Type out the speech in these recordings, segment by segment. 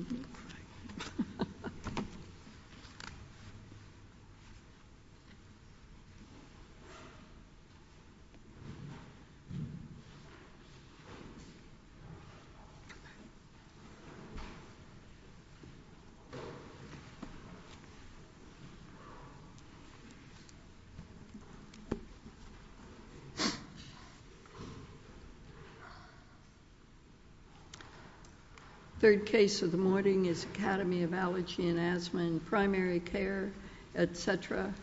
The third case of the morning is Academy of Allergy and Asthma in Primary Care, etc.,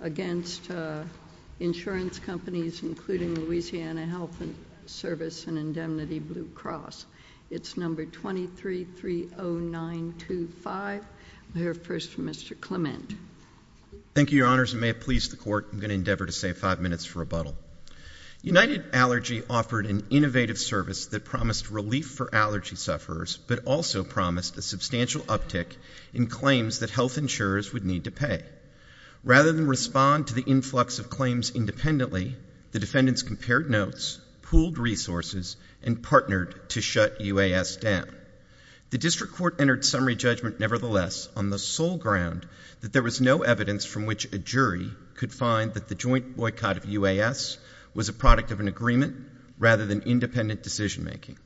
against insurance companies including Louisiana Health Service and Indemnity Blue Cross. It's number 2330925. I'll hear first from Mr. Clement. Thank you, Your Honors. And may it please the Court, I'm going to endeavor to save five minutes for rebuttal. United Allergy offered an innovative service that promised relief for allergy sufferers but also promised a substantial uptick in claims that health insurers would need to pay. Rather than respond to the influx of claims independently, the defendants compared notes, pooled resources, and partnered to shut UAS down. The District Court entered summary judgment nevertheless on the sole ground that there was no evidence from which a jury could find that the joint boycott of UAS was a product of an agreement rather than independent decision making.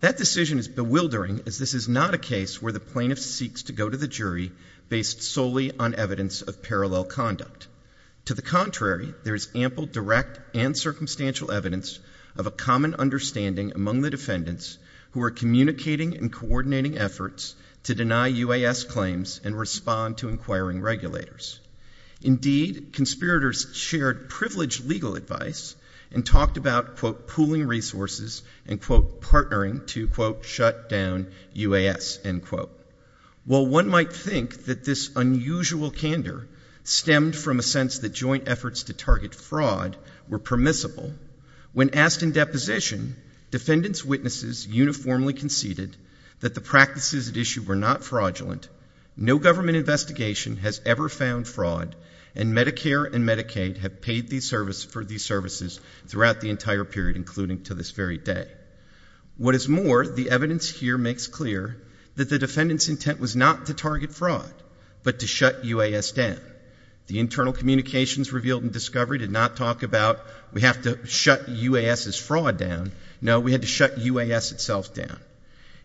That decision is bewildering as this is not a case where the plaintiff seeks to go to the jury based solely on evidence of parallel conduct. To the contrary, there is ample direct and circumstantial evidence of a common understanding among the defendants who are communicating and coordinating efforts to deny UAS claims and respond to inquiring regulators. Indeed, conspirators shared privileged legal advice and talked about, quote, pooling resources and, quote, partnering to, quote, shut down UAS, end quote. While one might think that this unusual candor stemmed from a sense that joint efforts to target fraud were permissible, when asked in deposition, defendants' witnesses uniformly conceded that the practices at issue were not fraudulent, no government investigation has ever found fraud, and Medicare and Medicaid have paid for these services throughout the entire period, including to this very day. What is more, the evidence here makes clear that the defendant's intent was not to target fraud but to shut UAS down. The internal communications revealed in discovery did not talk about we have to shut UAS's fraud down. No, we had to shut UAS itself down.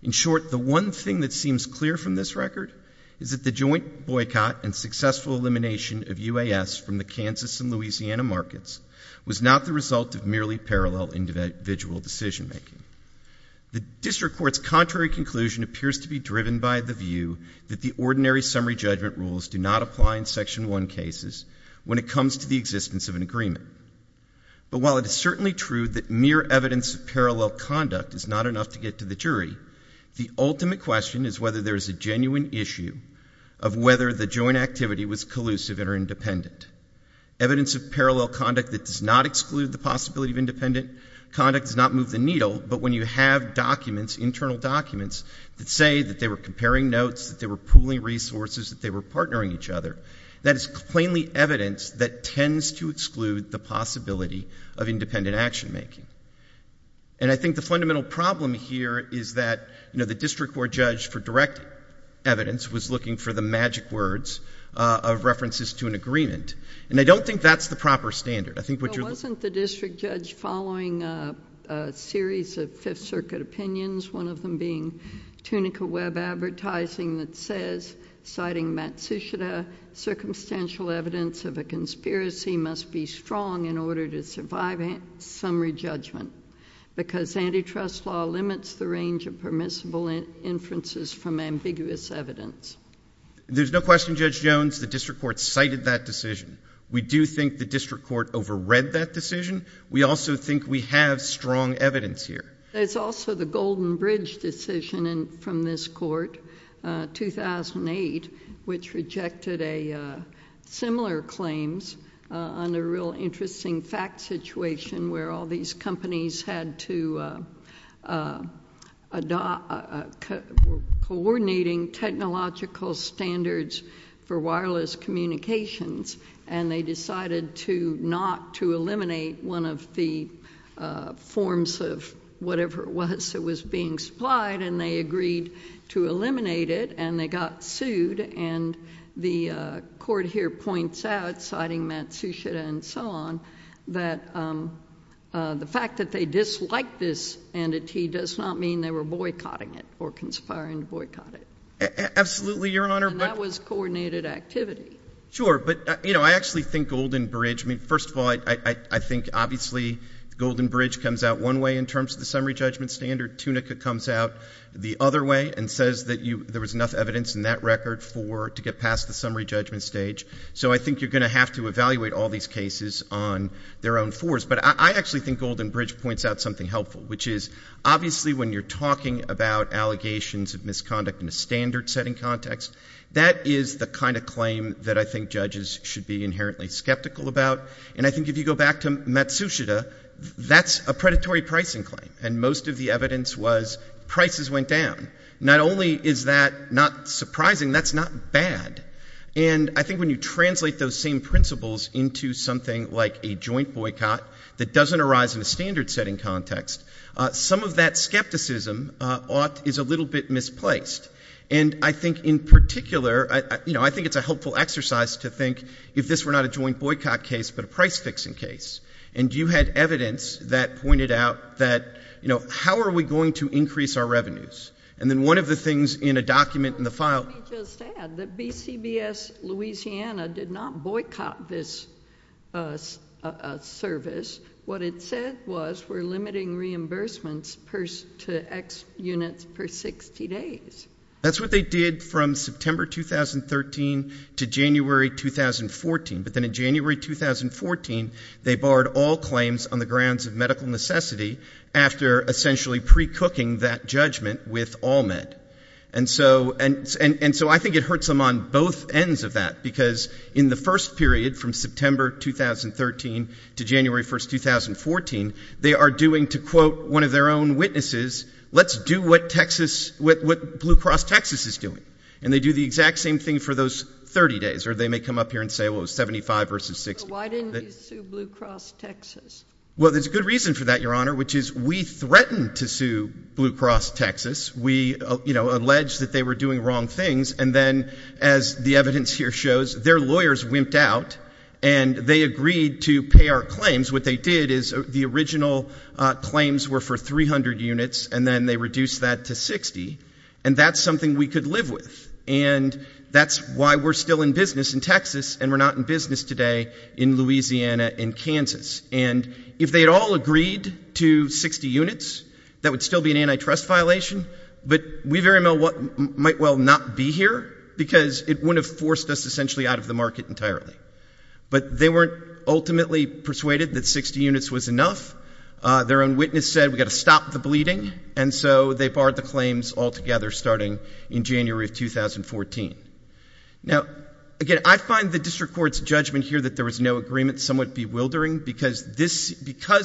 In short, the one thing that seems clear from this record is that the joint boycott and successful elimination of UAS from the Kansas and Louisiana markets was not the result of merely parallel individual decision-making. The district court's contrary conclusion appears to be driven by the view that the ordinary summary judgment rules do not apply in Section 1 cases when it comes to the existence of an agreement. But while it is certainly true that mere evidence of parallel conduct is not enough to get to the jury, the ultimate question is whether there is a genuine issue of whether the joint activity was collusive or independent. Evidence of parallel conduct that does not exclude the possibility of independent conduct does not move the needle, but when you have documents, internal documents, that say that they were comparing notes, that they were pooling resources, that they were partnering each other, that is plainly evidence that tends to exclude the possibility of independent action-making. And I think the fundamental problem here is that, you know, the district court judge for direct evidence was looking for the magic words of references to an agreement. And I don't think that's the proper standard. I think what you're... Well, wasn't the district judge following a series of Fifth Circuit opinions, one of them being Tunica Webb Advertising that says, citing Matsushita, circumstantial evidence of a conspiracy must be strong in order to survive summary judgment because antitrust law limits the range of permissible inferences from ambiguous evidence. There's no question, Judge Jones, the district court cited that decision. We do think the district court overread that decision. We also think we have strong evidence here. There's also the Golden Bridge decision from this court, 2008, which rejected a... similar... coordinating technological standards for wireless communications, and they decided to not to eliminate one of the forms of whatever it was that was being supplied, and they agreed to eliminate it, and they got sued. And the court here points out, citing Matsushita and so on, that the fact that they disliked this entity does not mean they were boycotting it or conspiring to boycott it. Absolutely, Your Honor. And that was coordinated activity. Sure. But, you know, I actually think Golden Bridge... I mean, first of all, I think obviously Golden Bridge comes out one way in terms of the summary judgment standard, Tunica comes out the other way and says that there was enough evidence in that record for... to get past the summary judgment stage. So I think you're going to have to evaluate all these cases on their own fours. But I actually think Golden Bridge points out something helpful, which is obviously when you're talking about allegations of misconduct in a standard setting context, that is the kind of claim that I think judges should be inherently skeptical about. And I think if you go back to Matsushita, that's a predatory pricing claim, and most of the evidence was prices went down. Not only is that not surprising, that's not bad. And I think when you translate those same principles into something like a joint boycott that doesn't arise in a standard setting context, some of that skepticism is a little bit misplaced. And I think in particular, you know, I think it's a helpful exercise to think if this were not a joint boycott case, but a price-fixing case, and you had evidence that pointed out that, you know, how are we going to increase our revenues? And then one of the things in a document in the file... Let me just add that BCBS Louisiana did not boycott this service. What it said was we're limiting reimbursements to X units per 60 days. That's what they did from September 2013 to January 2014. But then in January 2014, they barred all claims on the grounds of medical necessity after essentially pre-cooking that judgment with AllMed. And so I think it hurts them on both ends of that, because in the first period, from September 2013 to January 1st, 2014, they are doing, to quote one of their own witnesses, let's do what Blue Cross Texas is doing. And they do the exact same thing for those 30 days. Or they may come up here and say, well, it was 75 versus 60. So why didn't you sue Blue Cross Texas? Well, there's a good reason for that, Your Honor, which is we threatened to sue Blue Cross Texas. We, you know, alleged that they were doing wrong things. And then as the evidence here shows, their lawyers wimped out and they agreed to pay our claims. What they did is the original claims were for 300 units, and then they reduced that to 60. And that's something we could live with. And that's why we're still in business in Texas, and we're not in business today in Louisiana and Kansas. And if they had all agreed to 60 units, that would still be an antitrust violation. But we very well might not be here, because it wouldn't have forced us essentially out of the market entirely. But they weren't ultimately persuaded that 60 units was enough. Their own witness said, we've got to stop the bleeding. And so they barred the claims altogether starting in January of 2014. Now, again, I find the district court's judgment here that there was no agreement somewhat bewildering, because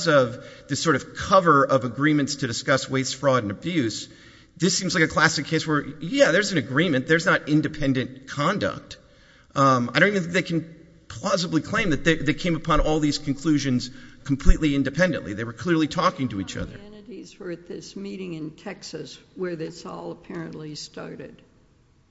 of the sort of cover of agreements to discuss waste, fraud, and abuse. This seems like a classic case where, yeah, there's an agreement. There's not independent conduct. I don't think they can plausibly claim that they came upon all these conclusions completely independently. They were clearly talking to each other. Identities were at this meeting in Texas where this all apparently started.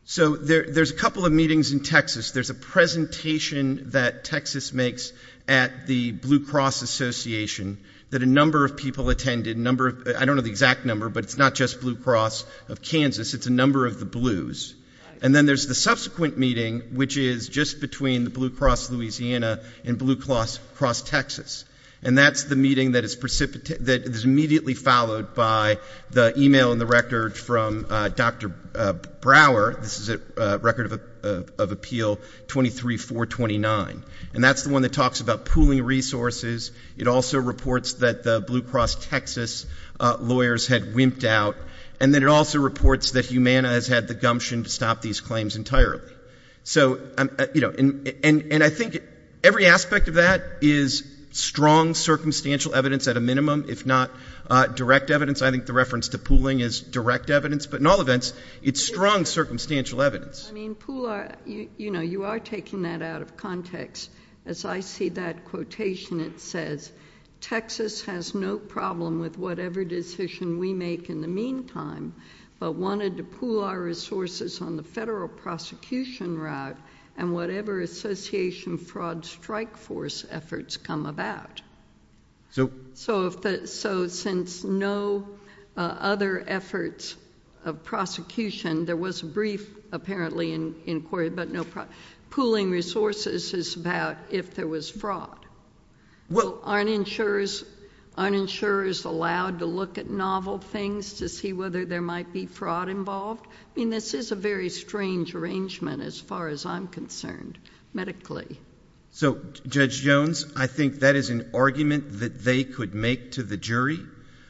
So there's a couple of meetings in Texas. There's a presentation that Texas makes at the Blue Cross Association that a number of people attended. I don't know the exact number, but it's not just Blue Cross of Kansas, it's a number of the Blues. And then there's the subsequent meeting, which is just between the Blue Cross Louisiana and Blue Cross Texas. And that's the meeting that is immediately followed by the email and the record from Dr. Brower, this is a record of appeal 23-429. And that's the one that talks about pooling resources. It also reports that the Blue Cross Texas lawyers had wimped out. And then it also reports that Humana has had the gumption to stop these claims entirely. So, and I think every aspect of that is strong circumstantial evidence at a minimum, if not direct evidence. I think the reference to pooling is direct evidence, but in all events, it's strong circumstantial evidence. I mean, pool, you are taking that out of context. As I see that quotation, it says, Texas has no problem with whatever decision we make in the meantime. But wanted to pool our resources on the federal prosecution route, and whatever association fraud strike force efforts come about. So since no other efforts of prosecution, there was a brief apparently inquiry, but no, pooling resources is about if there was fraud. Well, aren't insurers allowed to look at novel things to see whether there might be fraud involved? I mean, this is a very strange arrangement as far as I'm concerned, medically. So, Judge Jones, I think that is an argument that they could make to the jury.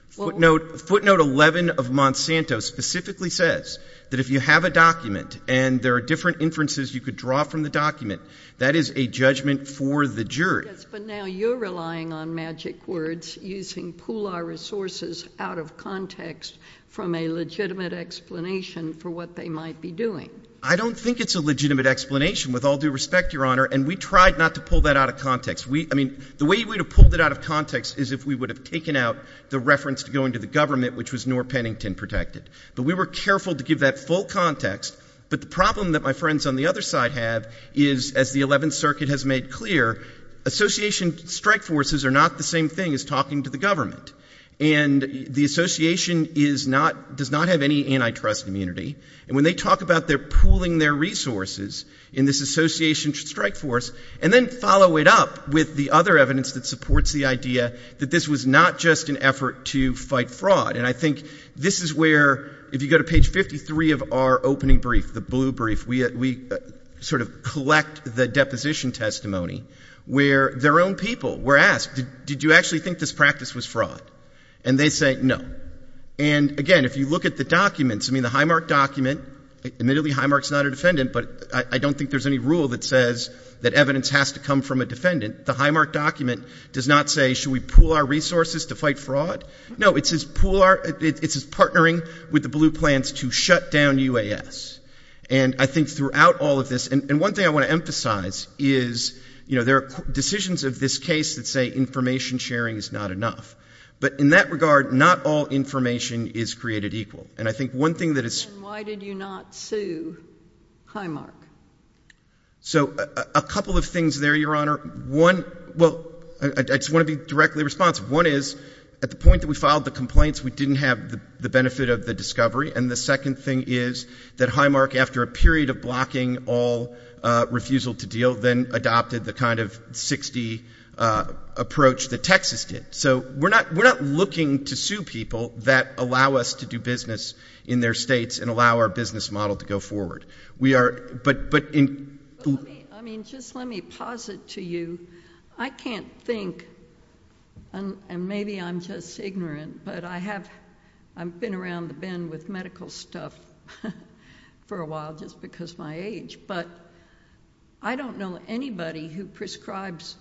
Footnote 11 of Monsanto specifically says that if you have a document and there are different inferences you could draw from the document, that is a judgment for the jury. Yes, but now you're relying on magic words using pool our resources out of context from a legitimate explanation for what they might be doing. I don't think it's a legitimate explanation, with all due respect, Your Honor, and we tried not to pull that out of context. I mean, the way we would have pulled it out of context is if we would have taken out the reference to going to the government, which was Norr Pennington protected. But we were careful to give that full context. But the problem that my friends on the other side have is, as the 11th Circuit has made clear, association strike forces are not the same thing as talking to the government. And the association does not have any antitrust immunity. And when they talk about their pooling their resources in this association strike force, and then follow it up with the other evidence that supports the idea that this was not just an effort to fight fraud. And I think this is where, if you go to page 53 of our opening brief, the blue brief, we sort of collect the deposition testimony where their own people were asked, did you actually think this practice was fraud, and they say no. And again, if you look at the documents, I mean the Highmark document, admittedly Highmark's not a defendant, but I don't think there's any rule that says that evidence has to come from a defendant. The Highmark document does not say, should we pool our resources to fight fraud? No, it says partnering with the blue plans to shut down UAS. And I think throughout all of this, and one thing I want to emphasize is there are decisions of this case that say information sharing is not enough. But in that regard, not all information is created equal. And I think one thing that is- And why did you not sue Highmark? So a couple of things there, Your Honor. One, well, I just want to be directly responsive. One is, at the point that we filed the complaints, we didn't have the benefit of the discovery. And the second thing is that Highmark, after a period of blocking all refusal to deal, then adopted the kind of 60 approach that Texas did. So we're not looking to sue people that allow us to do business in their states and allow our business model to go forward. We are, but- I mean, just let me pause it to you. I can't think, and maybe I'm just ignorant, but I've been around the bend with medical stuff for a while, just because of my age. But I don't know anybody who prescribes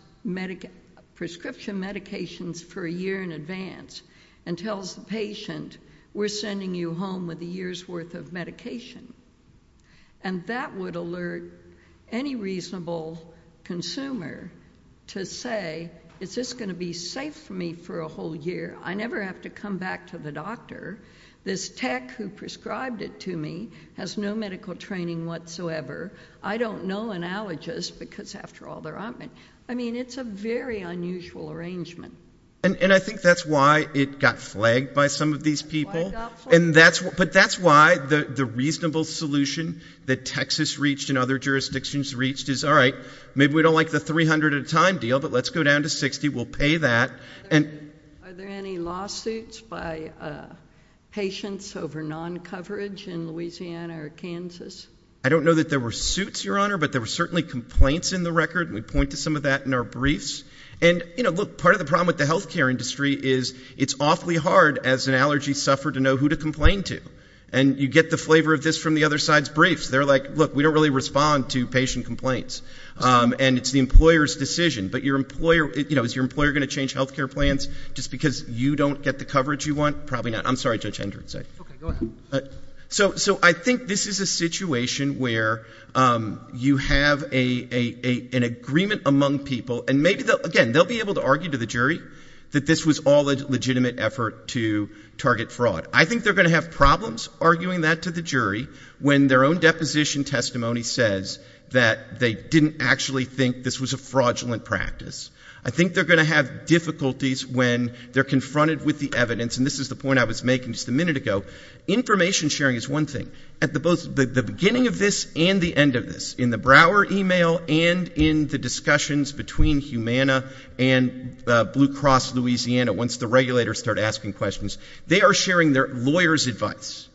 prescription medications for a year in advance and tells the patient, we're sending you home with a year's worth of medication. And that would alert any reasonable consumer to say, is this going to be safe for me for a whole year, I never have to come back to the doctor. This tech who prescribed it to me has no medical training whatsoever. I don't know an allergist because after all, they're on it. I mean, it's a very unusual arrangement. And I think that's why it got flagged by some of these people. But that's why the reasonable solution that Texas reached and other jurisdictions reached is, all right, maybe we don't like the 300 at a time deal, but let's go down to 60, we'll pay that. And- Are there any lawsuits by patients over non-coverage in Louisiana or Kansas? I don't know that there were suits, Your Honor, but there were certainly complaints in the record. We point to some of that in our briefs. And look, part of the problem with the healthcare industry is, it's awfully hard as an allergy sufferer to know who to complain to. And you get the flavor of this from the other side's briefs. They're like, look, we don't really respond to patient complaints. And it's the employer's decision. But is your employer going to change healthcare plans just because you don't get the coverage you want? Probably not. I'm sorry, Judge Hendricks. Okay, go ahead. So I think this is a situation where you have an agreement among people. And maybe, again, they'll be able to argue to the jury that this was all a legitimate effort to target fraud. I think they're going to have problems arguing that to the jury when their own deposition testimony says that they didn't actually think this was a fraudulent practice. I think they're going to have difficulties when they're confronted with the evidence. And this is the point I was making just a minute ago. Information sharing is one thing. At the beginning of this and the end of this, in the Brower email and in the discussions between Humana and Blue Cross Louisiana, once the regulators start asking questions. They are sharing their lawyer's advice.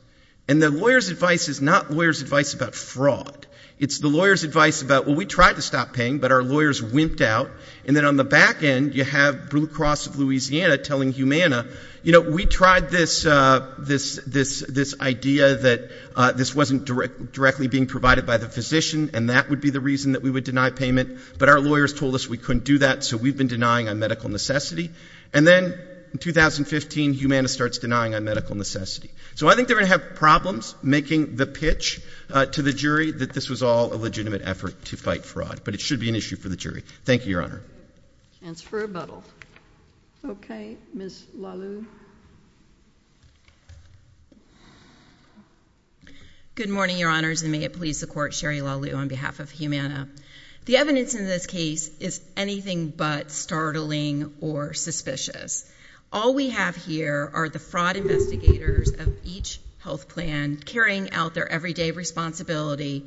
And the lawyer's advice is not lawyer's advice about fraud. It's the lawyer's advice about, well, we tried to stop paying, but our lawyers wimped out. And then on the back end, you have Blue Cross of Louisiana telling Humana, we tried this idea that this wasn't directly being provided by the physician, and that would be the reason that we would deny payment, but our lawyers told us we couldn't do that, so we've been denying a medical necessity. And then in 2015, Humana starts denying a medical necessity. So I think they're going to have problems making the pitch to the jury that this was all a legitimate effort to fight fraud. But it should be an issue for the jury. Thank you, Your Honor. Chance for rebuttal. Okay, Ms. LaLue. Good morning, Your Honors, and may it please the court, Sherry LaLue on behalf of Humana. The evidence in this case is anything but startling or suspicious. All we have here are the fraud investigators of each health plan, carrying out their everyday responsibility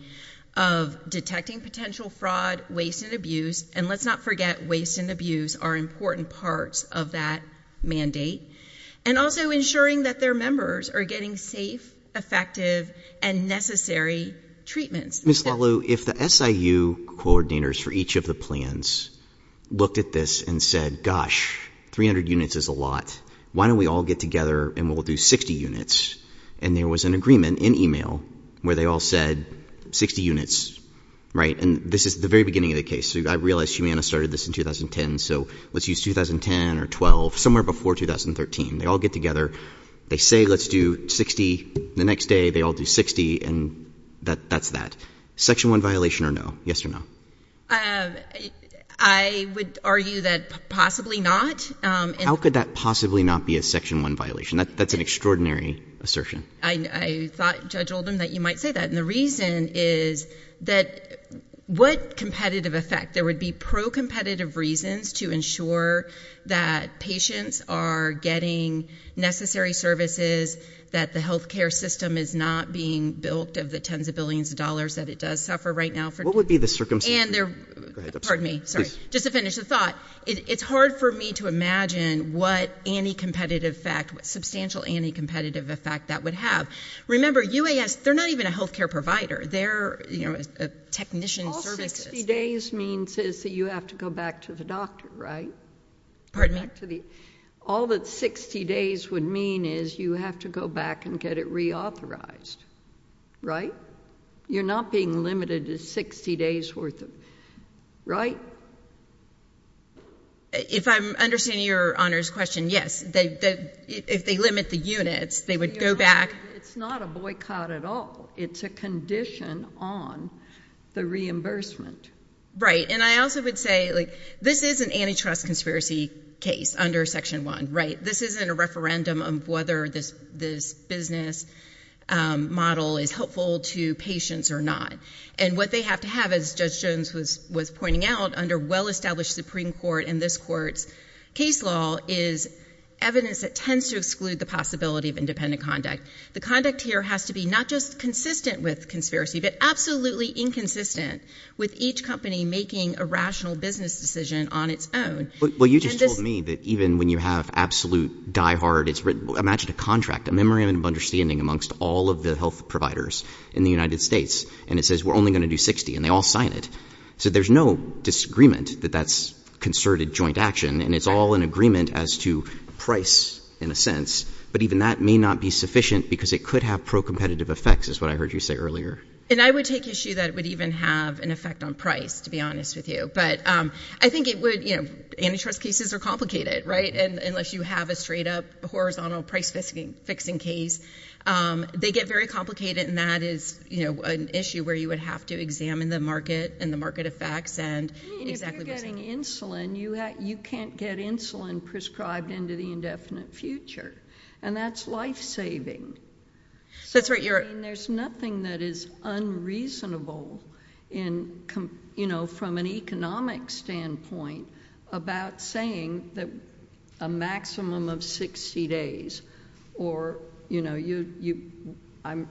of detecting potential fraud, waste, and abuse. And let's not forget, waste and abuse are important parts of that mandate. And also ensuring that their members are getting safe, effective, and necessary treatments. Ms. LaLue, if the SIU coordinators for each of the plans looked at this and said, gosh, 300 units is a lot. Why don't we all get together and we'll do 60 units? And there was an agreement in email where they all said 60 units, right? And this is the very beginning of the case. So I realize Humana started this in 2010, so let's use 2010 or 12, somewhere before 2013. They all get together, they say let's do 60, the next day they all do 60, and that's that. Section one violation or no? Yes or no? I would argue that possibly not. How could that possibly not be a section one violation? That's an extraordinary assertion. I thought, Judge Oldham, that you might say that. And the reason is that what competitive effect? There would be pro-competitive reasons to ensure that patients are getting necessary services, that the healthcare system is not being bilked of the tens of billions of dollars that it does suffer right now. What would be the circumstance? And they're, pardon me, sorry, just to finish the thought. It's hard for me to imagine what anti-competitive effect, what substantial anti-competitive effect that would have. Remember, UAS, they're not even a healthcare provider. They're a technician services. 60 days means is that you have to go back to the doctor, right? Pardon me? All that 60 days would mean is you have to go back and get it reauthorized, right? You're not being limited to 60 days worth of, right? If I'm understanding your Honor's question, yes. If they limit the units, they would go back. It's not a boycott at all. It's a condition on the reimbursement. Right. And I also would say, like, this is an antitrust conspiracy case under Section 1, right? This isn't a referendum of whether this business model is helpful to patients or not. And what they have to have, as Judge Jones was pointing out, under well-established Supreme Court and this Court's case law, is evidence that tends to exclude the possibility of independent conduct. The conduct here has to be not just consistent with conspiracy, but absolutely inconsistent with each company making a rational business decision on its own. Well, you just told me that even when you have absolute diehard, imagine a contract, a memorandum of understanding amongst all of the health providers in the United States, and it says we're only going to do 60, and they all sign it. So there's no disagreement that that's concerted joint action, and it's all an agreement as to price, in a sense. But even that may not be sufficient, because it could have pro-competitive effects, is what I heard you say earlier. And I would take issue that it would even have an effect on price, to be honest with you. But I think it would, antitrust cases are complicated, right? And unless you have a straight up, horizontal price fixing case, they get very complicated. And that is an issue where you would have to examine the market and the market effects and exactly what's happening. And if you're buying insulin, you can't get insulin prescribed into the indefinite future. And that's life saving. So that's what you're- I mean, there's nothing that is unreasonable from an economic standpoint about saying that a maximum of 60 days. Or I'm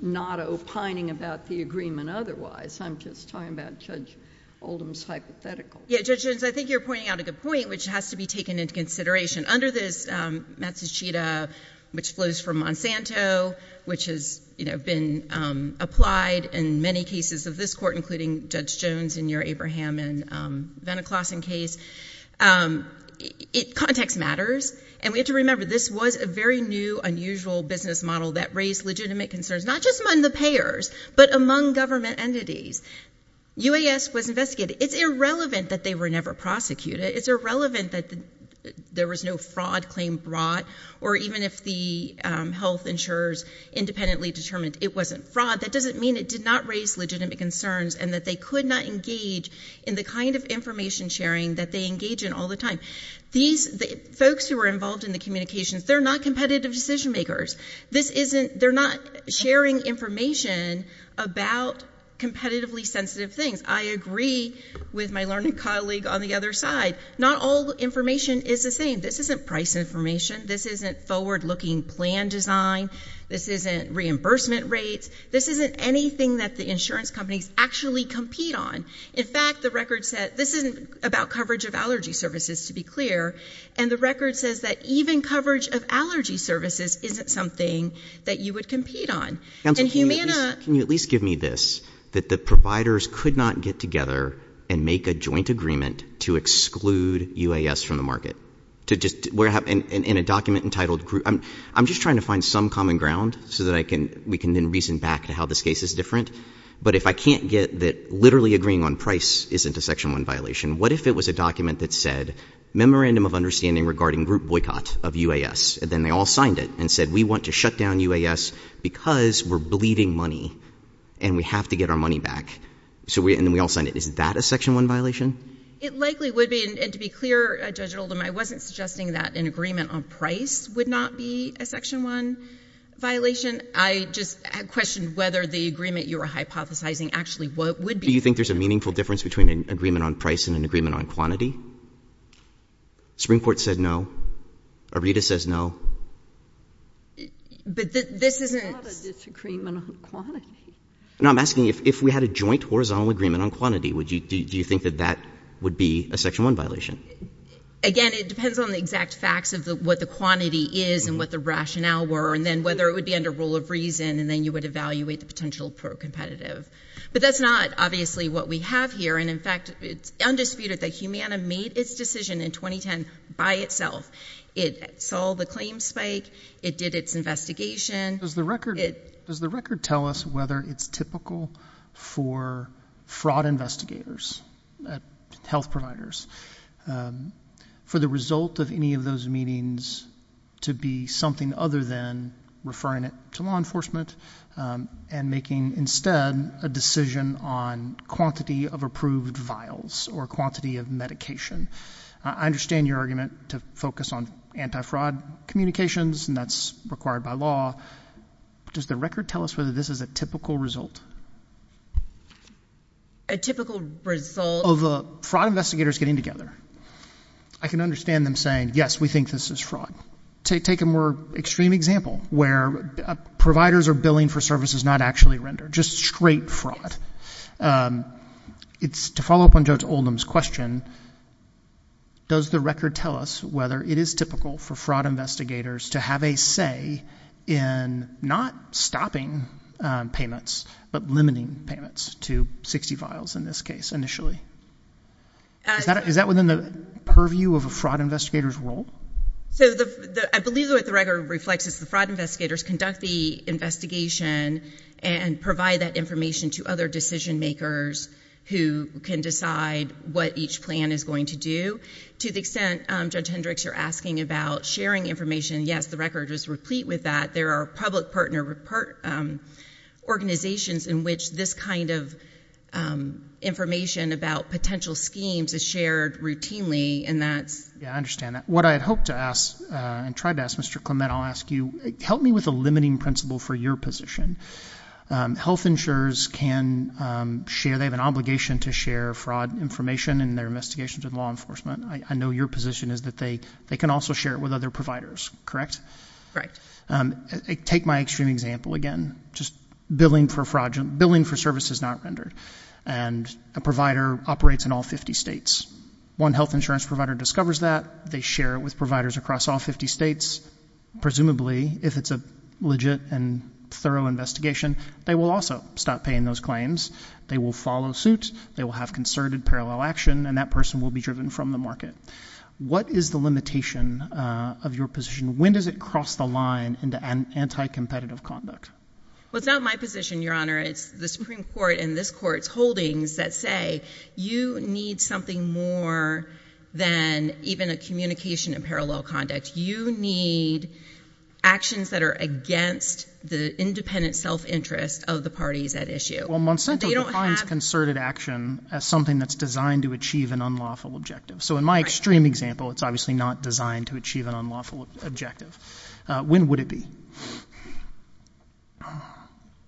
not opining about the agreement otherwise. I'm just talking about Judge Oldham's hypothetical. Yeah, Judge Jones, I think you're pointing out a good point, which has to be taken into consideration. Under this Matsushita, which flows from Monsanto, which has been applied in many cases of this court, including Judge Jones in your Abraham and Veniklason case, context matters. And we have to remember, this was a very new, unusual business model that raised legitimate concerns, not just among the payers, but among government entities. UAS was investigated. It's irrelevant that they were never prosecuted. It's irrelevant that there was no fraud claim brought, or even if the health insurers independently determined it wasn't fraud. That doesn't mean it did not raise legitimate concerns and that they could not engage in the kind of information sharing that they engage in all the time. These folks who were involved in the communications, they're not competitive decision makers. This isn't, they're not sharing information about competitively sensitive things. I agree with my learning colleague on the other side. Not all information is the same. This isn't price information. This isn't forward-looking plan design. This isn't reimbursement rates. This isn't anything that the insurance companies actually compete on. In fact, the record said, this isn't about coverage of allergy services, to be clear. And the record says that even coverage of allergy services isn't something that you would compete on. And Humana- Can you at least give me this? That the providers could not get together and make a joint agreement to exclude UAS from the market? To just, in a document entitled, I'm just trying to find some common ground so that we can then reason back to how this case is different. But if I can't get that literally agreeing on price isn't a section one violation, what if it was a document that said, memorandum of understanding regarding group boycott of UAS. And then they all signed it and said, we want to shut down UAS because we're bleeding money. And we have to get our money back. And then we all signed it. Is that a section one violation? It likely would be. And to be clear, Judge Oldham, I wasn't suggesting that an agreement on price would not be a section one violation. I just questioned whether the agreement you were hypothesizing actually would be- Do you think there's a meaningful difference between an agreement on price and an agreement on quantity? The Supreme Court said no. ARRETA says no. But this isn't- There's not a disagreement on quantity. No, I'm asking if we had a joint horizontal agreement on quantity, do you think that that would be a section one violation? Again, it depends on the exact facts of what the quantity is and what the rationale were. And then whether it would be under rule of reason. And then you would evaluate the potential pro-competitive. But that's not obviously what we have here. And in fact, it's undisputed that Humana made its decision in 2010 by itself. It saw the claim spike. It did its investigation. Does the record tell us whether it's typical for fraud investigators, health providers, for the result of any of those meetings to be something other than referring it to law enforcement and making instead a decision on quantity of approved vials or quantity of medication? I understand your argument to focus on anti-fraud communications and that's required by law. Does the record tell us whether this is a typical result? A typical result- Of a fraud investigators getting together. I can understand them saying, yes, we think this is fraud. Take a more extreme example where providers are billing for services not actually rendered. Just straight fraud. To follow up on Judge Oldham's question, does the record tell us whether it is typical for fraud investigators to have a say in not stopping payments but limiting payments to 60 vials in this case initially? Is that within the purview of a fraud investigator's role? So, I believe what the record reflects is the fraud investigators conduct the investigation and provide that information to other decision makers who can decide what each plan is going to do. To the extent, Judge Hendricks, you're asking about sharing information. Yes, the record is replete with that. There are public partner organizations in which this kind of information about potential schemes is shared routinely and that's- Yeah, I understand that. What I had hoped to ask and tried to ask Mr. Clement, I'll ask you, help me with a limiting principle for your position. Health insurers can share, they have an obligation to share fraud information in their investigations in law enforcement. I know your position is that they can also share it with other providers, correct? Right. Take my extreme example again. Just billing for fraud, billing for services not rendered. And a provider operates in all 50 states. One health insurance provider discovers that. They share it with providers across all 50 states. Presumably, if it's a legit and thorough investigation, they will also stop paying those claims. They will follow suit. They will have concerted parallel action and that person will be driven from the market. What is the limitation of your position? When does it cross the line into anti-competitive conduct? Well, it's not my position, Your Honor. It's the Supreme Court and this Court's holdings that say, you need something more than even a communication and parallel conduct. You need actions that are against the independent self-interest of the parties at issue. Well, Monsanto defines concerted action as something that's designed to achieve an unlawful objective. So in my extreme example, it's obviously not designed to achieve an unlawful objective. When would it be?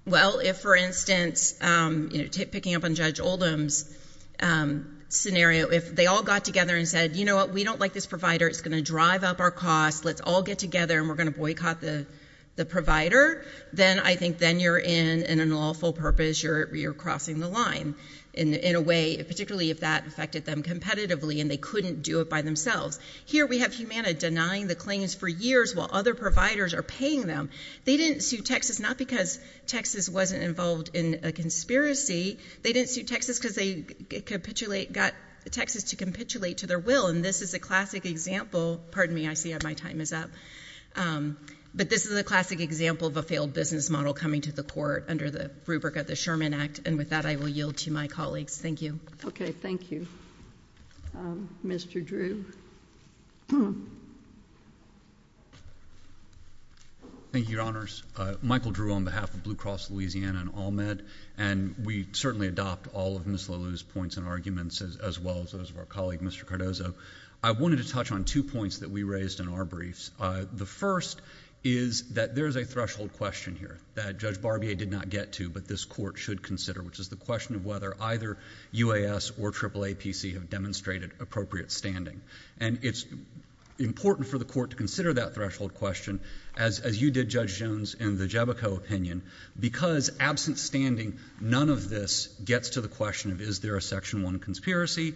Well, if, for instance, you know, picking up on Judge Oldham's scenario, if they all got together and said, you know what, we don't like this provider. It's going to drive up our costs. Let's all get together and we're going to boycott the provider. Then I think then you're in an unlawful purpose. You're crossing the line in a way, particularly if that affected them competitively and they couldn't do it by themselves. Here we have Humana denying the claims for years while other providers are paying them. They didn't sue Texas, not because Texas wasn't involved in a conspiracy. They didn't sue Texas because they got Texas to capitulate to their will. And this is a classic example. Pardon me. I see my time is up. But this is a classic example of a failed business model coming to the court under the rubric of the Sherman Act. And with that, I will yield to my colleagues. Thank you. Okay. Thank you, Mr. Drew. Thank you, Your Honors. Michael Drew on behalf of Blue Cross Louisiana and ALMED. And we certainly adopt all of Ms. Lalu's points and arguments as well as those of our colleague, Mr. Cardozo. I wanted to touch on two points that we raised in our briefs. The first is that there is a threshold question here that Judge Barbier did not get to, but this court should consider, which is the question of whether either UAS or AAAPC have demonstrated appropriate standing. And it's important for the court to consider that threshold question as you did, Judge Jones, in the Jebico opinion. Because absent standing, none of this gets to the question of is there a Section 1 conspiracy?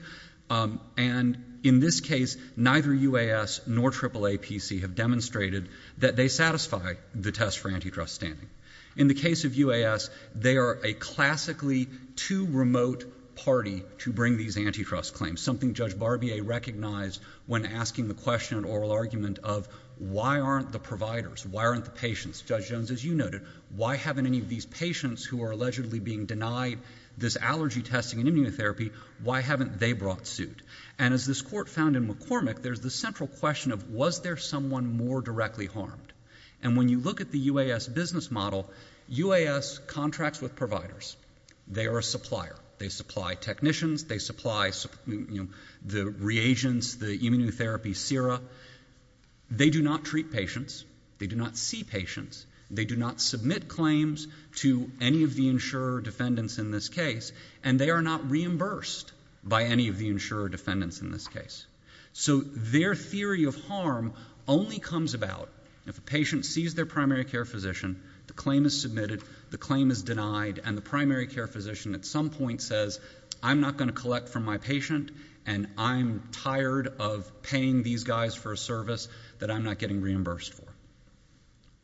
And in this case, neither UAS nor AAAPC have demonstrated that they satisfy the test for antitrust standing. In the case of UAS, they are a classically too remote party to bring these antitrust claims, something Judge Barbier recognized when asking the question of why aren't the providers, why aren't the patients, Judge Jones, as you noted, why haven't any of these patients who are allegedly being denied this allergy testing and immunotherapy, why haven't they brought suit? And as this court found in McCormick, there's the central question of was there someone more directly harmed? And when you look at the UAS business model, UAS contracts with providers. They are a supplier. They supply technicians. They supply the reagents, the immunotherapy sera. They do not treat patients. They do not see patients. They do not submit claims to any of the insurer defendants in this case. And they are not reimbursed by any of the insurer defendants in this case. So their theory of harm only comes about if a patient sees their primary care physician, the claim is submitted, the claim is denied, and the primary care physician at some point says, I'm not going to collect from my patient and I'm tired of paying these guys for a service that I'm not getting reimbursed for.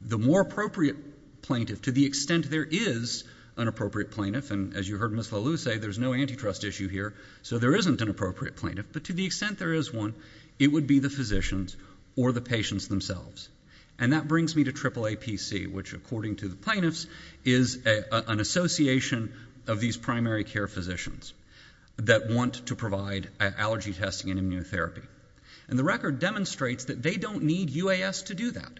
The more appropriate plaintiff, to the extent there is an appropriate plaintiff, and as you heard Ms. Lalu say, there's no antitrust issue here, so there isn't an appropriate plaintiff, but to the extent there is one, it would be the physicians or the patients themselves. And that brings me to AAAPC, which, according to the plaintiffs, is an association of these primary care physicians that want to provide allergy testing and immunotherapy. And the record demonstrates that they don't need UAS to do that.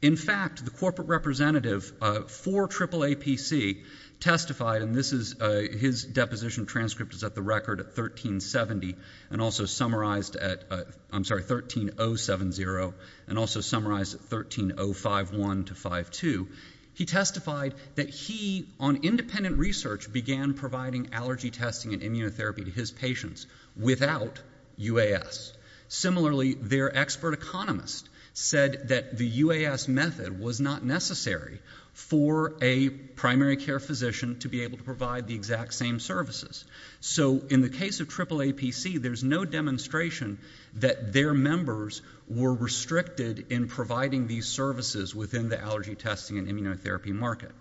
In fact, the corporate representative for AAAPC testified, and this is his deposition transcript is at the record at 1370, and also summarized at, I'm sorry, 13070, and also summarized at 13051 to 52, he testified that he, on independent research, began providing allergy testing and immunotherapy to his patients without UAS. Similarly, their expert economist said that the UAS method was not necessary for a primary care physician to be able to provide the exact same services. So in the case of AAAPC, there's no demonstration that their members were restricted in providing these services within the allergy testing and immunotherapy market.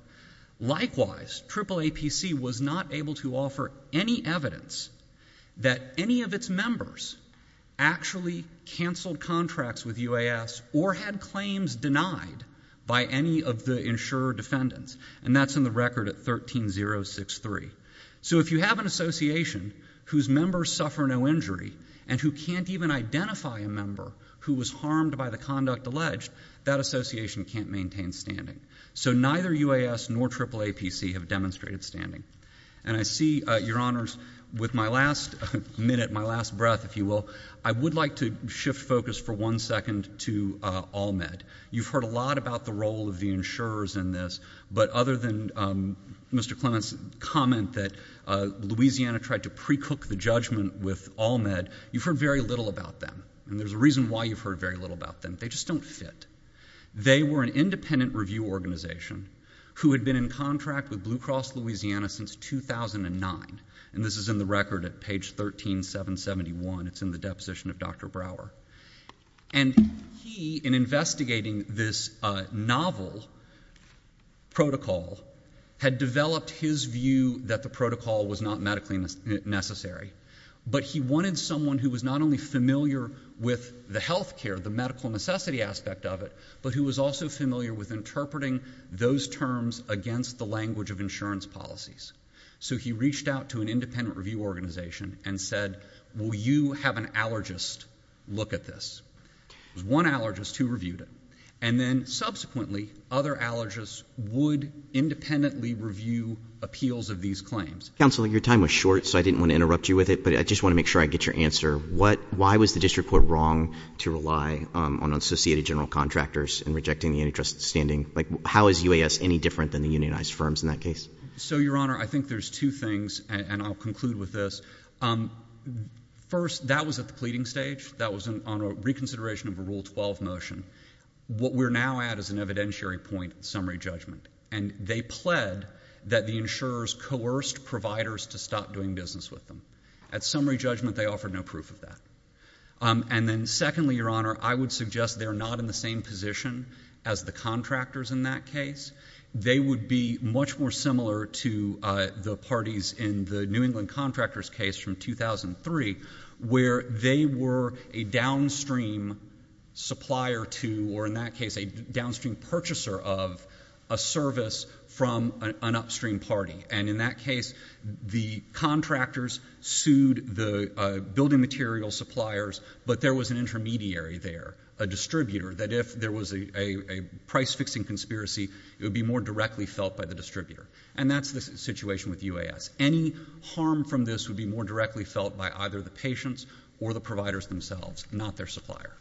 Likewise, AAAPC was not able to offer any evidence that any of its members actually canceled contracts with UAS or had claims denied by any of the insurer defendants. And that's in the record at 13063. So if you have an association whose members suffer no injury and who can't even identify a member who was harmed by the conduct alleged, that association can't maintain standing. So neither UAS nor AAAPC have demonstrated standing. And I see, Your Honors, with my last minute, my last breath, if you will, I would like to shift focus for one second to AllMed. You've heard a lot about the role of the insurers in this, but other than Mr. Clement's comment that Louisiana tried to precook the judgment with AllMed, you've heard very little about them. And there's a reason why you've heard very little about them. They just don't fit. They were an independent review organization who had been in contract with Blue Cross Louisiana since 2009. And this is in the record at page 13771. It's in the deposition of Dr. Brower. And he, in investigating this novel protocol, had developed his view that the protocol was not medically necessary, but he wanted someone who was not only with the healthcare, the medical necessity aspect of it, but who was also familiar with interpreting those terms against the language of insurance policies. So he reached out to an independent review organization and said, will you have an allergist look at this? It was one allergist who reviewed it. And then subsequently, other allergists would independently review appeals of these claims. Counselor, your time was short, so I didn't want to interrupt you with it, but I just want to make sure I get your answer. Why was the district court wrong to rely on associated general contractors in rejecting the antitrust standing? How is UAS any different than the unionized firms in that case? So, Your Honor, I think there's two things, and I'll conclude with this. First, that was at the pleading stage. That was on a reconsideration of a Rule 12 motion. What we're now at is an evidentiary point, summary judgment. And they pled that the insurers coerced providers to stop doing business with them. At summary judgment, they offered no proof of that. And then secondly, Your Honor, I would suggest they're not in the same position as the contractors in that case. They would be much more similar to the parties in the New England contractor's case from 2003, where they were a downstream supplier to, or in that case, a downstream purchaser of, a service from an upstream party. And in that case, the contractors sued the building material suppliers, but there was an intermediary there, a distributor, that if there was a price-fixing conspiracy, it would be more directly felt by the distributor. And that's the situation with UAS. Any harm from this would be more directly felt by either the patients or the providers themselves, not their supplier.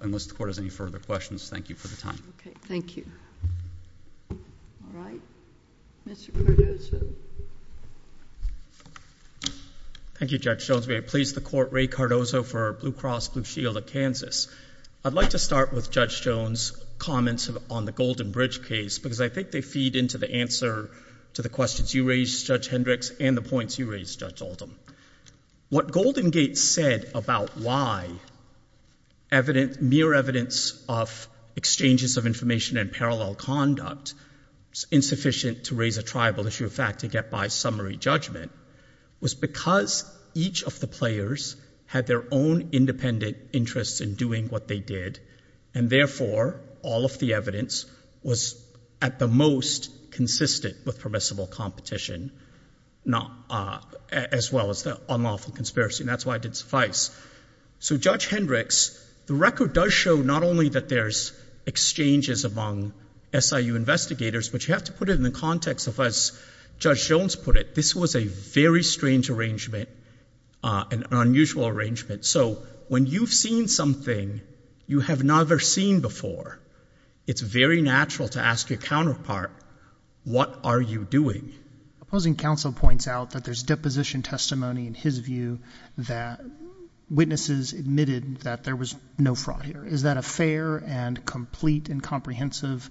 Unless the Court has any further questions, thank you for the time. Okay, thank you. All right. Mr. Cardozo. Thank you, Judge Jones. May I please the Court, Ray Cardozo for Blue Cross Blue Shield of Kansas. I'd like to start with Judge Jones' comments on the Golden Bridge case, because I think they feed into the answer to the questions you raised, Judge Hendricks, and the points you raised, Judge Oldham. What Golden Gate said about why mere evidence of exchanges of information and parallel conduct is insufficient to raise a tribal issue of fact, to get by summary judgment, was because each of the players had their own independent interests in doing what they did. And therefore, all of the evidence was at the most consistent with permissible competition, as well as the unlawful conspiracy. And that's why it didn't suffice. So, Judge Hendricks, the record does show not only that there's exchanges among SIU investigators, but you have to put it in the context of, as Judge Jones put it, this was a very strange arrangement, an unusual arrangement. So, when you've seen something you have never seen before, it's very natural to ask your counterpart, what are you doing? Opposing counsel points out that there's deposition testimony in his view that witnesses admitted that there was no fraud here. Is that a fair and complete and comprehensive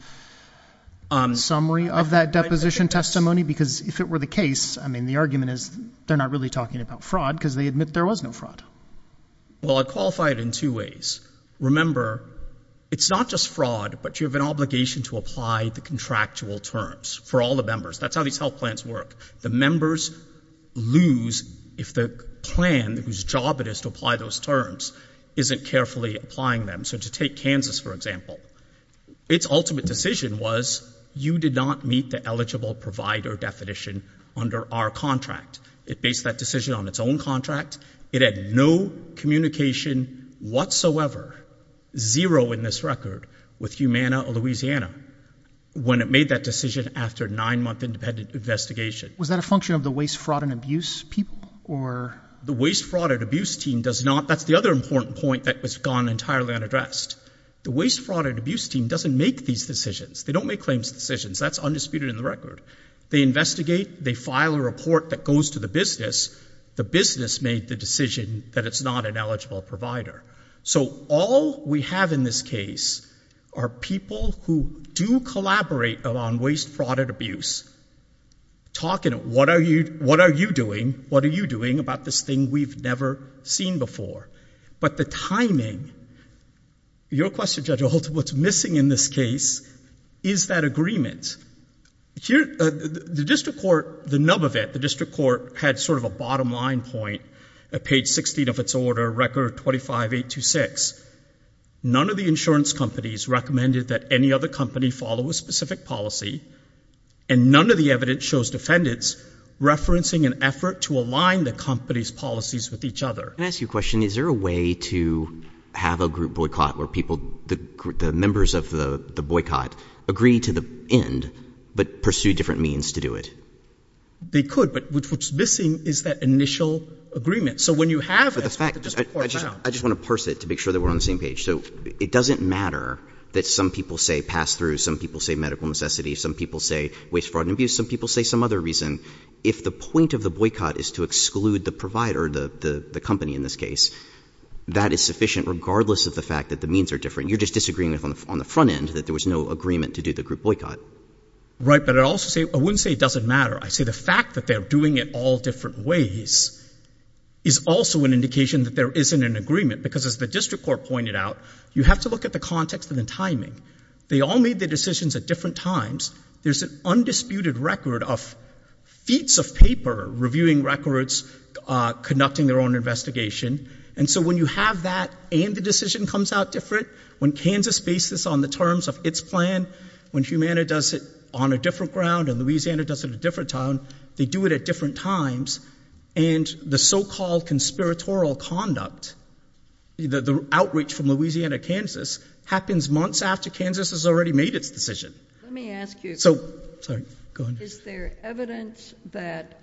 summary of that deposition testimony? Because if it were the case, I mean, the argument is they're not really talking about fraud because they admit there was no fraud. Well, I'd qualify it in two ways. Remember, it's not just fraud, but you have an obligation to apply the contractual terms for all the members. That's how these health plans work. The members lose if the plan, whose job it is to apply those terms, isn't carefully applying them. So, to take Kansas, for example, its ultimate decision was you did not meet the eligible provider definition under our contract. It based that decision on its own contract. It had no communication whatsoever, zero in this record, with Humana, Louisiana. When it made that decision after a nine-month independent investigation. Was that a function of the Waste, Fraud, and Abuse people or? The Waste, Fraud, and Abuse team does not. That's the other important point that was gone entirely unaddressed. The Waste, Fraud, and Abuse team doesn't make these decisions. They don't make claims decisions. That's undisputed in the record. They investigate. They file a report that goes to the business. The business made the decision that it's not an eligible provider. So, all we have in this case are people who do collaborate on Waste, Fraud, and Abuse. Talking, what are you doing? What are you doing about this thing we've never seen before? But the timing, your question Judge Ault, what's missing in this case is that agreement. The district court, the nub of it, the district court had sort of a bottom line point at page 16 of its order, record 25.826. None of the insurance companies recommended that any other company follow a specific policy and none of the evidence shows defendants referencing an effort to align the company's policies with each other. Can I ask you a question? Is there a way to have a group boycott where people, the members of the boycott, agree to the end but pursue different means to do it? They could, but what's missing is that initial agreement. So, when you have... But the fact, I just want to parse it to make sure that we're on the same page. So, it doesn't matter that some people say pass through, some people say medical necessity, some people say Waste, Fraud, and Abuse, some people say some other reason. If the point of the boycott is to exclude the provider, the company in this case, that is sufficient regardless of the fact that the means are different. You're just disagreeing on the front end that there was no agreement to do the group boycott. Right, but I also say, I wouldn't say it doesn't matter. I say the fact that they're doing it all different ways is also an indication that there isn't an agreement because as the district court pointed out, you have to look at the context and the timing. They all made their decisions at different times. There's an undisputed record of feats of paper, reviewing records, conducting their own investigation. And so, when you have that and the decision comes out different, when Kansas bases on the terms of its plan, when Humana does it on a different ground, and Louisiana does it in a different town, they do it at different times. And the so-called conspiratorial conduct, the outreach from Louisiana to Kansas, happens months after Kansas has already made its decision. Let me ask you. So, sorry, go ahead. Is there evidence that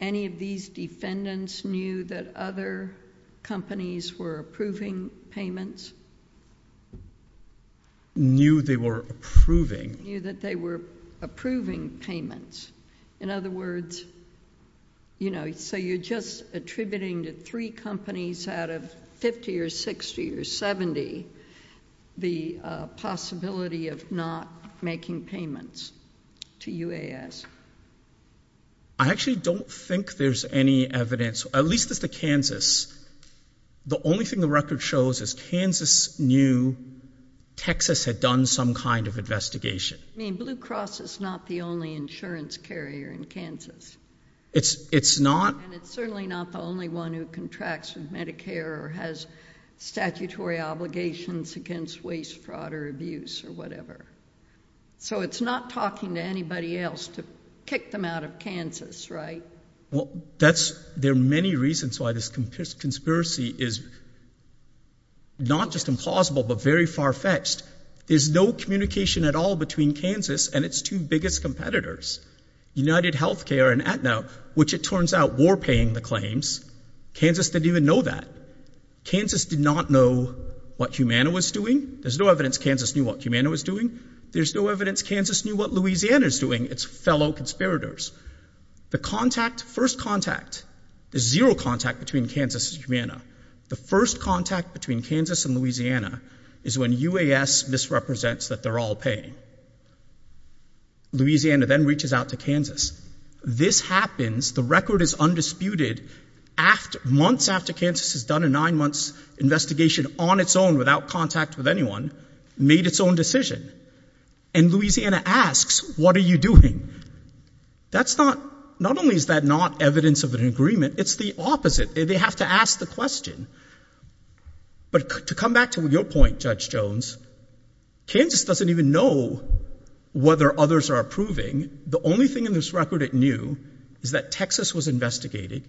any of these defendants knew that other companies were approving payments? Knew they were approving? Knew that they were approving payments. In other words, you know, so you're just attributing to three companies out of 50 or 60 or 70 the possibility of not making payments to UAS. I actually don't think there's any evidence, at least as to Kansas. The only thing the record shows is Kansas knew Texas had done some kind of investigation. I mean, Blue Cross is not the only insurance carrier in Kansas. It's not. And it's certainly not the only one who contracts with Medicare or has statutory obligations against waste, fraud, or abuse, or whatever. So, it's not talking to anybody else to kick them out of Kansas, right? Well, there are many reasons why this conspiracy is not just implausible, but very far-fetched. There's no communication at all between Kansas and its two biggest competitors, UnitedHealthcare and Aetna, which it turns out were paying the claims. Kansas didn't even know that. Kansas did not know what Humana was doing. There's no evidence Kansas knew what Humana was doing. There's no evidence Kansas knew what Louisiana's doing, its fellow conspirators. The contact, first contact, there's zero contact between Kansas and Humana. The first contact between Kansas and Louisiana is when UAS misrepresents that they're all paying. Louisiana then reaches out to Kansas. This happens. The record is undisputed. Months after Kansas has done a nine-month investigation on its own without contact with anyone, made its own decision. And Louisiana asks, what are you doing? That's not, not only is that not evidence of an agreement, it's the opposite. They have to ask the question. But to come back to your point, Judge Jones, Kansas doesn't even know whether others are approving. The only thing in this record it knew is that Texas was investigating.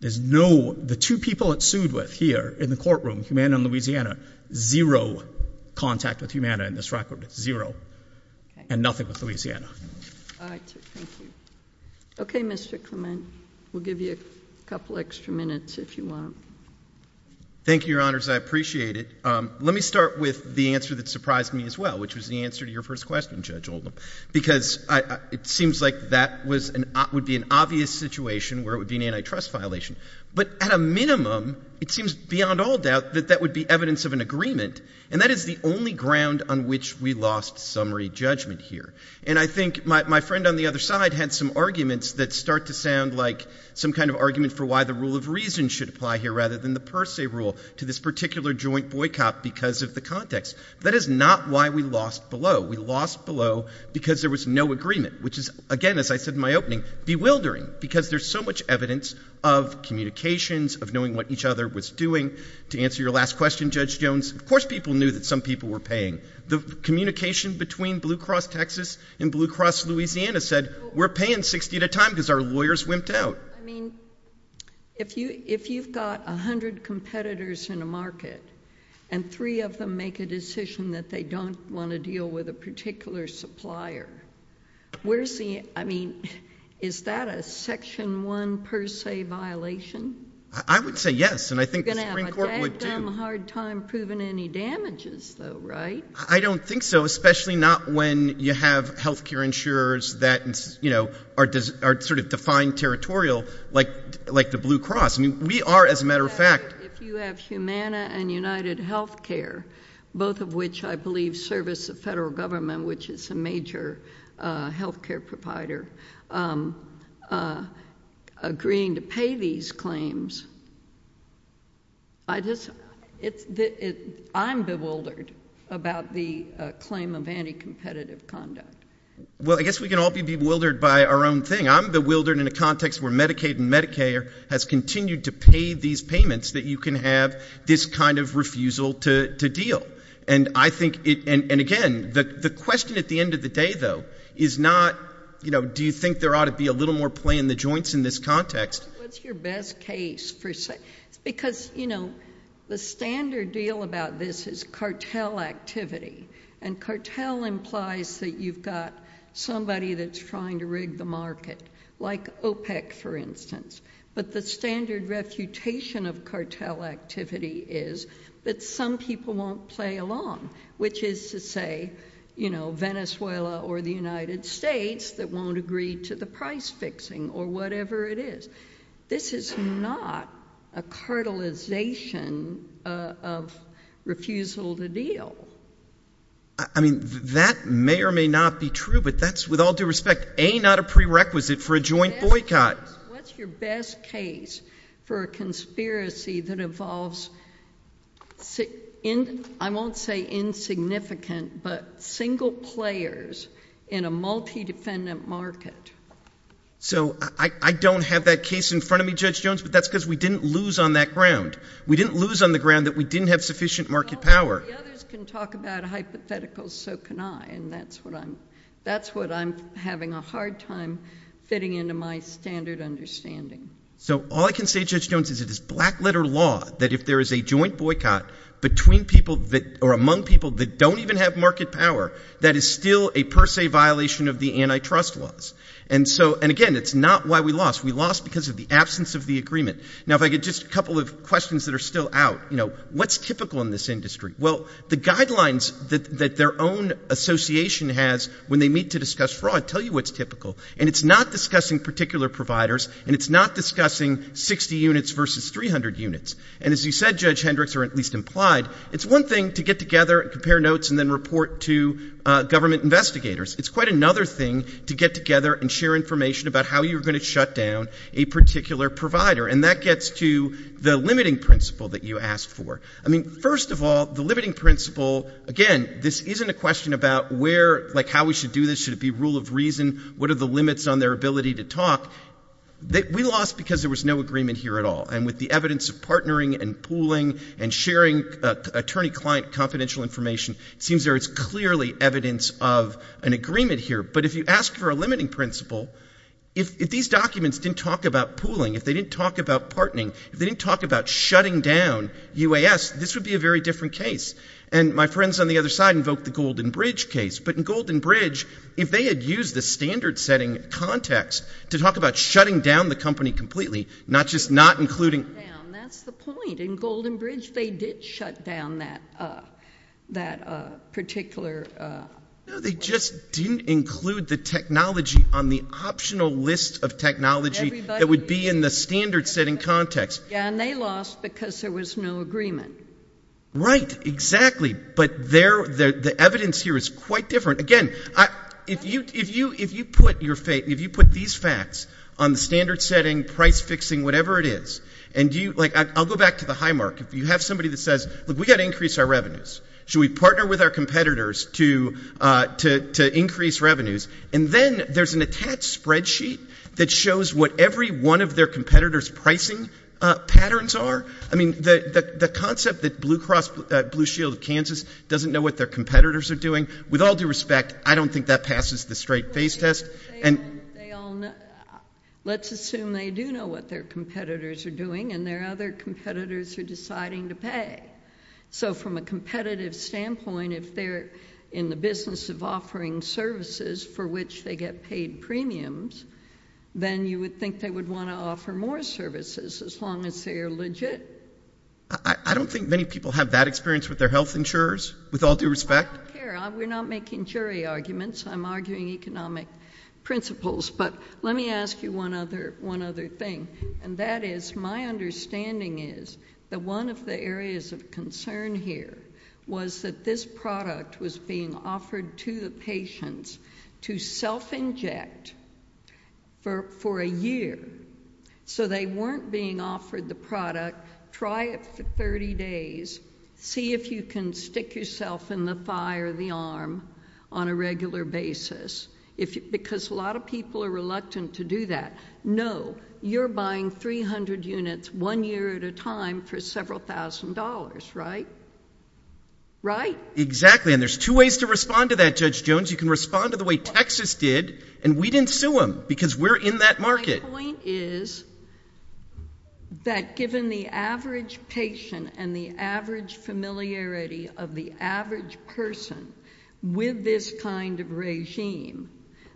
There's no, the two people it sued with here in the courtroom, Humana and Louisiana, zero contact with Humana in this record, zero and nothing with Louisiana. All right, thank you. Okay, Mr. Clement. We'll give you a couple extra minutes if you want. Thank you, Your Honors. I appreciate it. Let me start with the answer that surprised me as well, which was the answer to your first question, Judge Oldham. Because it seems like that would be an obvious situation where it would be an antitrust violation. But at a minimum, it seems beyond all doubt that that would be evidence of an agreement. And that is the only ground on which we lost summary judgment here. And I think my friend on the other side had some arguments that start to sound like some kind of argument for why the rule of reason should apply here rather than the per se rule to this particular joint boycott because of the context. That is not why we lost below. We lost below because there was no agreement, which is, again, as I said in my opening, bewildering because there's so much evidence of communications, of knowing what each other was doing. To answer your last question, Judge Jones, of course people knew that some people were paying. The communication between Blue Cross Texas and Blue Cross Louisiana said, we're paying 60 at a time because our lawyers wimped out. I mean, if you've got 100 competitors in a market and three of them make a decision that they don't want to deal with a particular supplier, where's the, I mean, is that a section one per se violation? I would say yes. And I think the Supreme Court would too. You're going to have a damn hard time proving any damages though, right? I don't think so. Especially not when you have healthcare insurers that are sort of defined territorial like the Blue Cross. I mean, we are, as a matter of fact. If you have Humana and United Healthcare, both of which I believe service the federal government, which is a major healthcare provider, agreeing to pay these claims. I just, I'm bewildered about the claim of anti-competitive conduct. Well, I guess we can all be bewildered by our own thing. I'm bewildered in a context where Medicaid and Medicare has continued to pay these payments that you can have this kind of refusal to deal. And I think, and again, the question at the end of the day though, is not, do you think there ought to be a little more play in the joints in this context? What's your best case? Because the standard deal about this is cartel activity. And cartel implies that you've got somebody that's trying to rig the market. Like OPEC, for instance. But the standard refutation of cartel activity is that some people won't play along. Which is to say, Venezuela or the United States that won't agree to the price fixing or whatever it is. This is not a cartelization of refusal to deal. I mean, that may or may not be true, but that's with all due respect, A, not a prerequisite for a joint boycott. What's your best case for a conspiracy that involves, I won't say insignificant, but single players in a multi-defendant market? So I don't have that case in front of me, Judge Jones, but that's because we didn't lose on that ground. We didn't lose on the ground that we didn't have sufficient market power. Well, the others can talk about hypotheticals, so can I. And that's what I'm having a hard time fitting into my standard understanding. So all I can say, Judge Jones, is it is black letter law that if there is a joint boycott between people that, or among people that don't even have market power, that is still a per se violation of the antitrust laws. And again, it's not why we lost. We lost because of the absence of the agreement. Now, if I could, just a couple of questions that are still out. What's typical in this industry? Well, the guidelines that their own association has when they meet to discuss fraud tell you what's typical, and it's not discussing particular providers, and it's not discussing 60 units versus 300 units. And as you said, Judge Hendricks, or at least implied, it's one thing to get together and compare notes and then report to government investigators. It's quite another thing to get together and share information about how you're going to shut down a particular provider. And that gets to the limiting principle that you asked for. I mean, first of all, the limiting principle, again, this isn't a question about where, like how we should do this. Should it be rule of reason? What are the limits on their ability to talk? We lost because there was no agreement here at all. And with the evidence of partnering and pooling and sharing attorney-client confidential information, it seems there is clearly evidence of an agreement here. But if you ask for a limiting principle, if these documents didn't talk about pooling, if they didn't talk about partnering, if they didn't talk about shutting down UAS, this would be a very different case. And my friends on the other side invoked the Golden Bridge case. But in Golden Bridge, if they had used the standard setting context to talk about shutting down the company completely, not just not including... Shut down, that's the point. In Golden Bridge, they did shut down that particular... No, they just didn't include the technology on the optional list of technology that would be in the standard setting context. Yeah, and they lost because there was no agreement. Right, exactly. But the evidence here is quite different. Again, if you put these facts on the standard setting, price fixing, whatever it is, and I'll go back to the high mark. If you have somebody that says, look, we got to increase our revenues. Should we partner with our competitors to increase revenues? And then there's an attached spreadsheet that shows what every one of their competitors' pricing patterns are. I mean, the concept that Blue Cross Blue Shield of Kansas doesn't know what their competitors are doing, with all due respect, I don't think that passes the straight face test. Let's assume they do know what their competitors are doing and their other competitors are deciding to pay. So from a competitive standpoint, if they're in the business of offering services for which they get paid premiums, then you would think they would want to offer more services as long as they are legit. I don't think many people have that experience with their health insurers, with all due respect. I don't care. We're not making jury arguments. I'm arguing economic principles. But let me ask you one other thing. That is, my understanding is that one of the areas of concern here was that this product was being offered to the patients to self-inject for a year. So they weren't being offered the product, try it for 30 days, see if you can stick yourself in the thigh or the arm on a regular basis. Because a lot of people are reluctant to do that. No, you're buying 300 units one year at a time for several thousand dollars, right? Right? Exactly. And there's two ways to respond to that, Judge Jones. You can respond to the way Texas did, and we didn't sue them because we're in that market. My point is that given the average patient and the average familiarity of the average person with this kind of regime,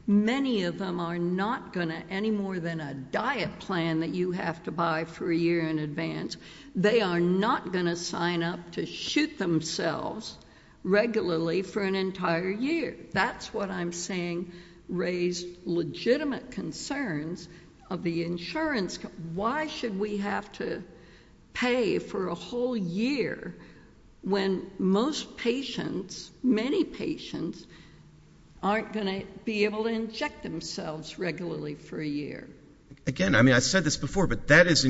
many of them are not gonna, any more than a diet plan that you have to buy for a year in advance, they are not gonna sign up to shoot themselves regularly for an entire year. That's what I'm saying raised legitimate concerns of the insurance. Why should we have to pay for a whole year when most patients, many patients, aren't gonna be able to inject themselves regularly for a year? Again, I mean, I said this before, but that is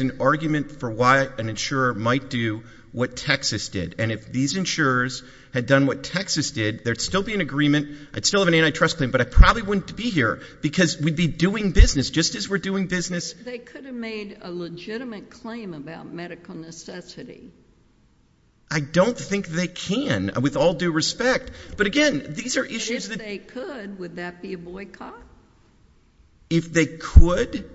an argument for why an insurer might do what Texas did. And if these insurers had done what Texas did, there'd still be an agreement. I'd still have an antitrust claim, but I probably wouldn't be here because we'd be doing business just as we're doing business. They could have made a legitimate claim about medical necessity. I don't think they can with all due respect. But again, these are issues that- And if they could, would that be a boycott? If they could?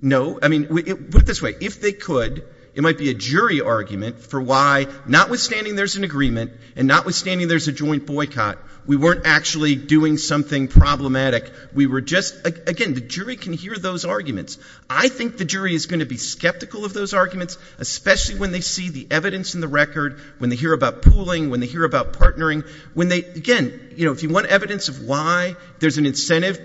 No, I mean, put it this way. If they could, it might be a jury argument for why, notwithstanding there's an agreement and notwithstanding there's a joint boycott, we weren't actually doing something problematic. We were just, again, the jury can hear those arguments. I think the jury is gonna be skeptical of those arguments, especially when they see the evidence in the record, when they hear about pooling, when they hear about partnering, when they, again, if you want evidence of why, there's an incentive-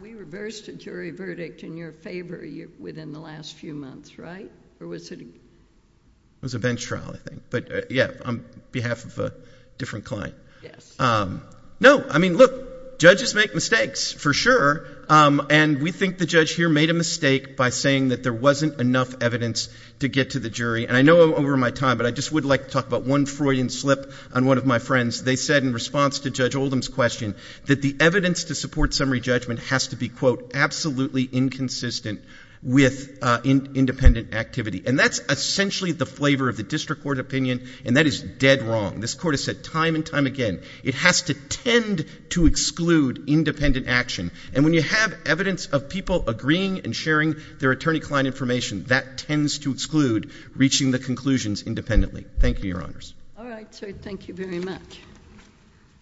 We reversed a jury verdict in your favor within the last few months, right? Or was it- It was a bench trial, I think. But yeah, on behalf of a different client. Yes. No, I mean, look, judges make mistakes for sure. And we think the judge here made a mistake by saying that there wasn't enough evidence to get to the jury. And I know over my time, but I just would like to talk about one Freudian slip on one of my friends. They said in response to Judge Oldham's question that the evidence to support summary judgment has to be, quote, absolutely inconsistent with independent activity. And that's essentially the flavor of the district court opinion. And that is dead wrong. This court has said time and time again, it has to tend to exclude independent action. And when you have evidence of people agreeing and sharing their attorney client information, that tends to exclude reaching the conclusions independently. Thank you, your honors. All right. So thank you very much.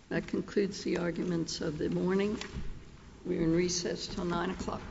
That concludes the arguments of the morning. We're in recess till nine o'clock.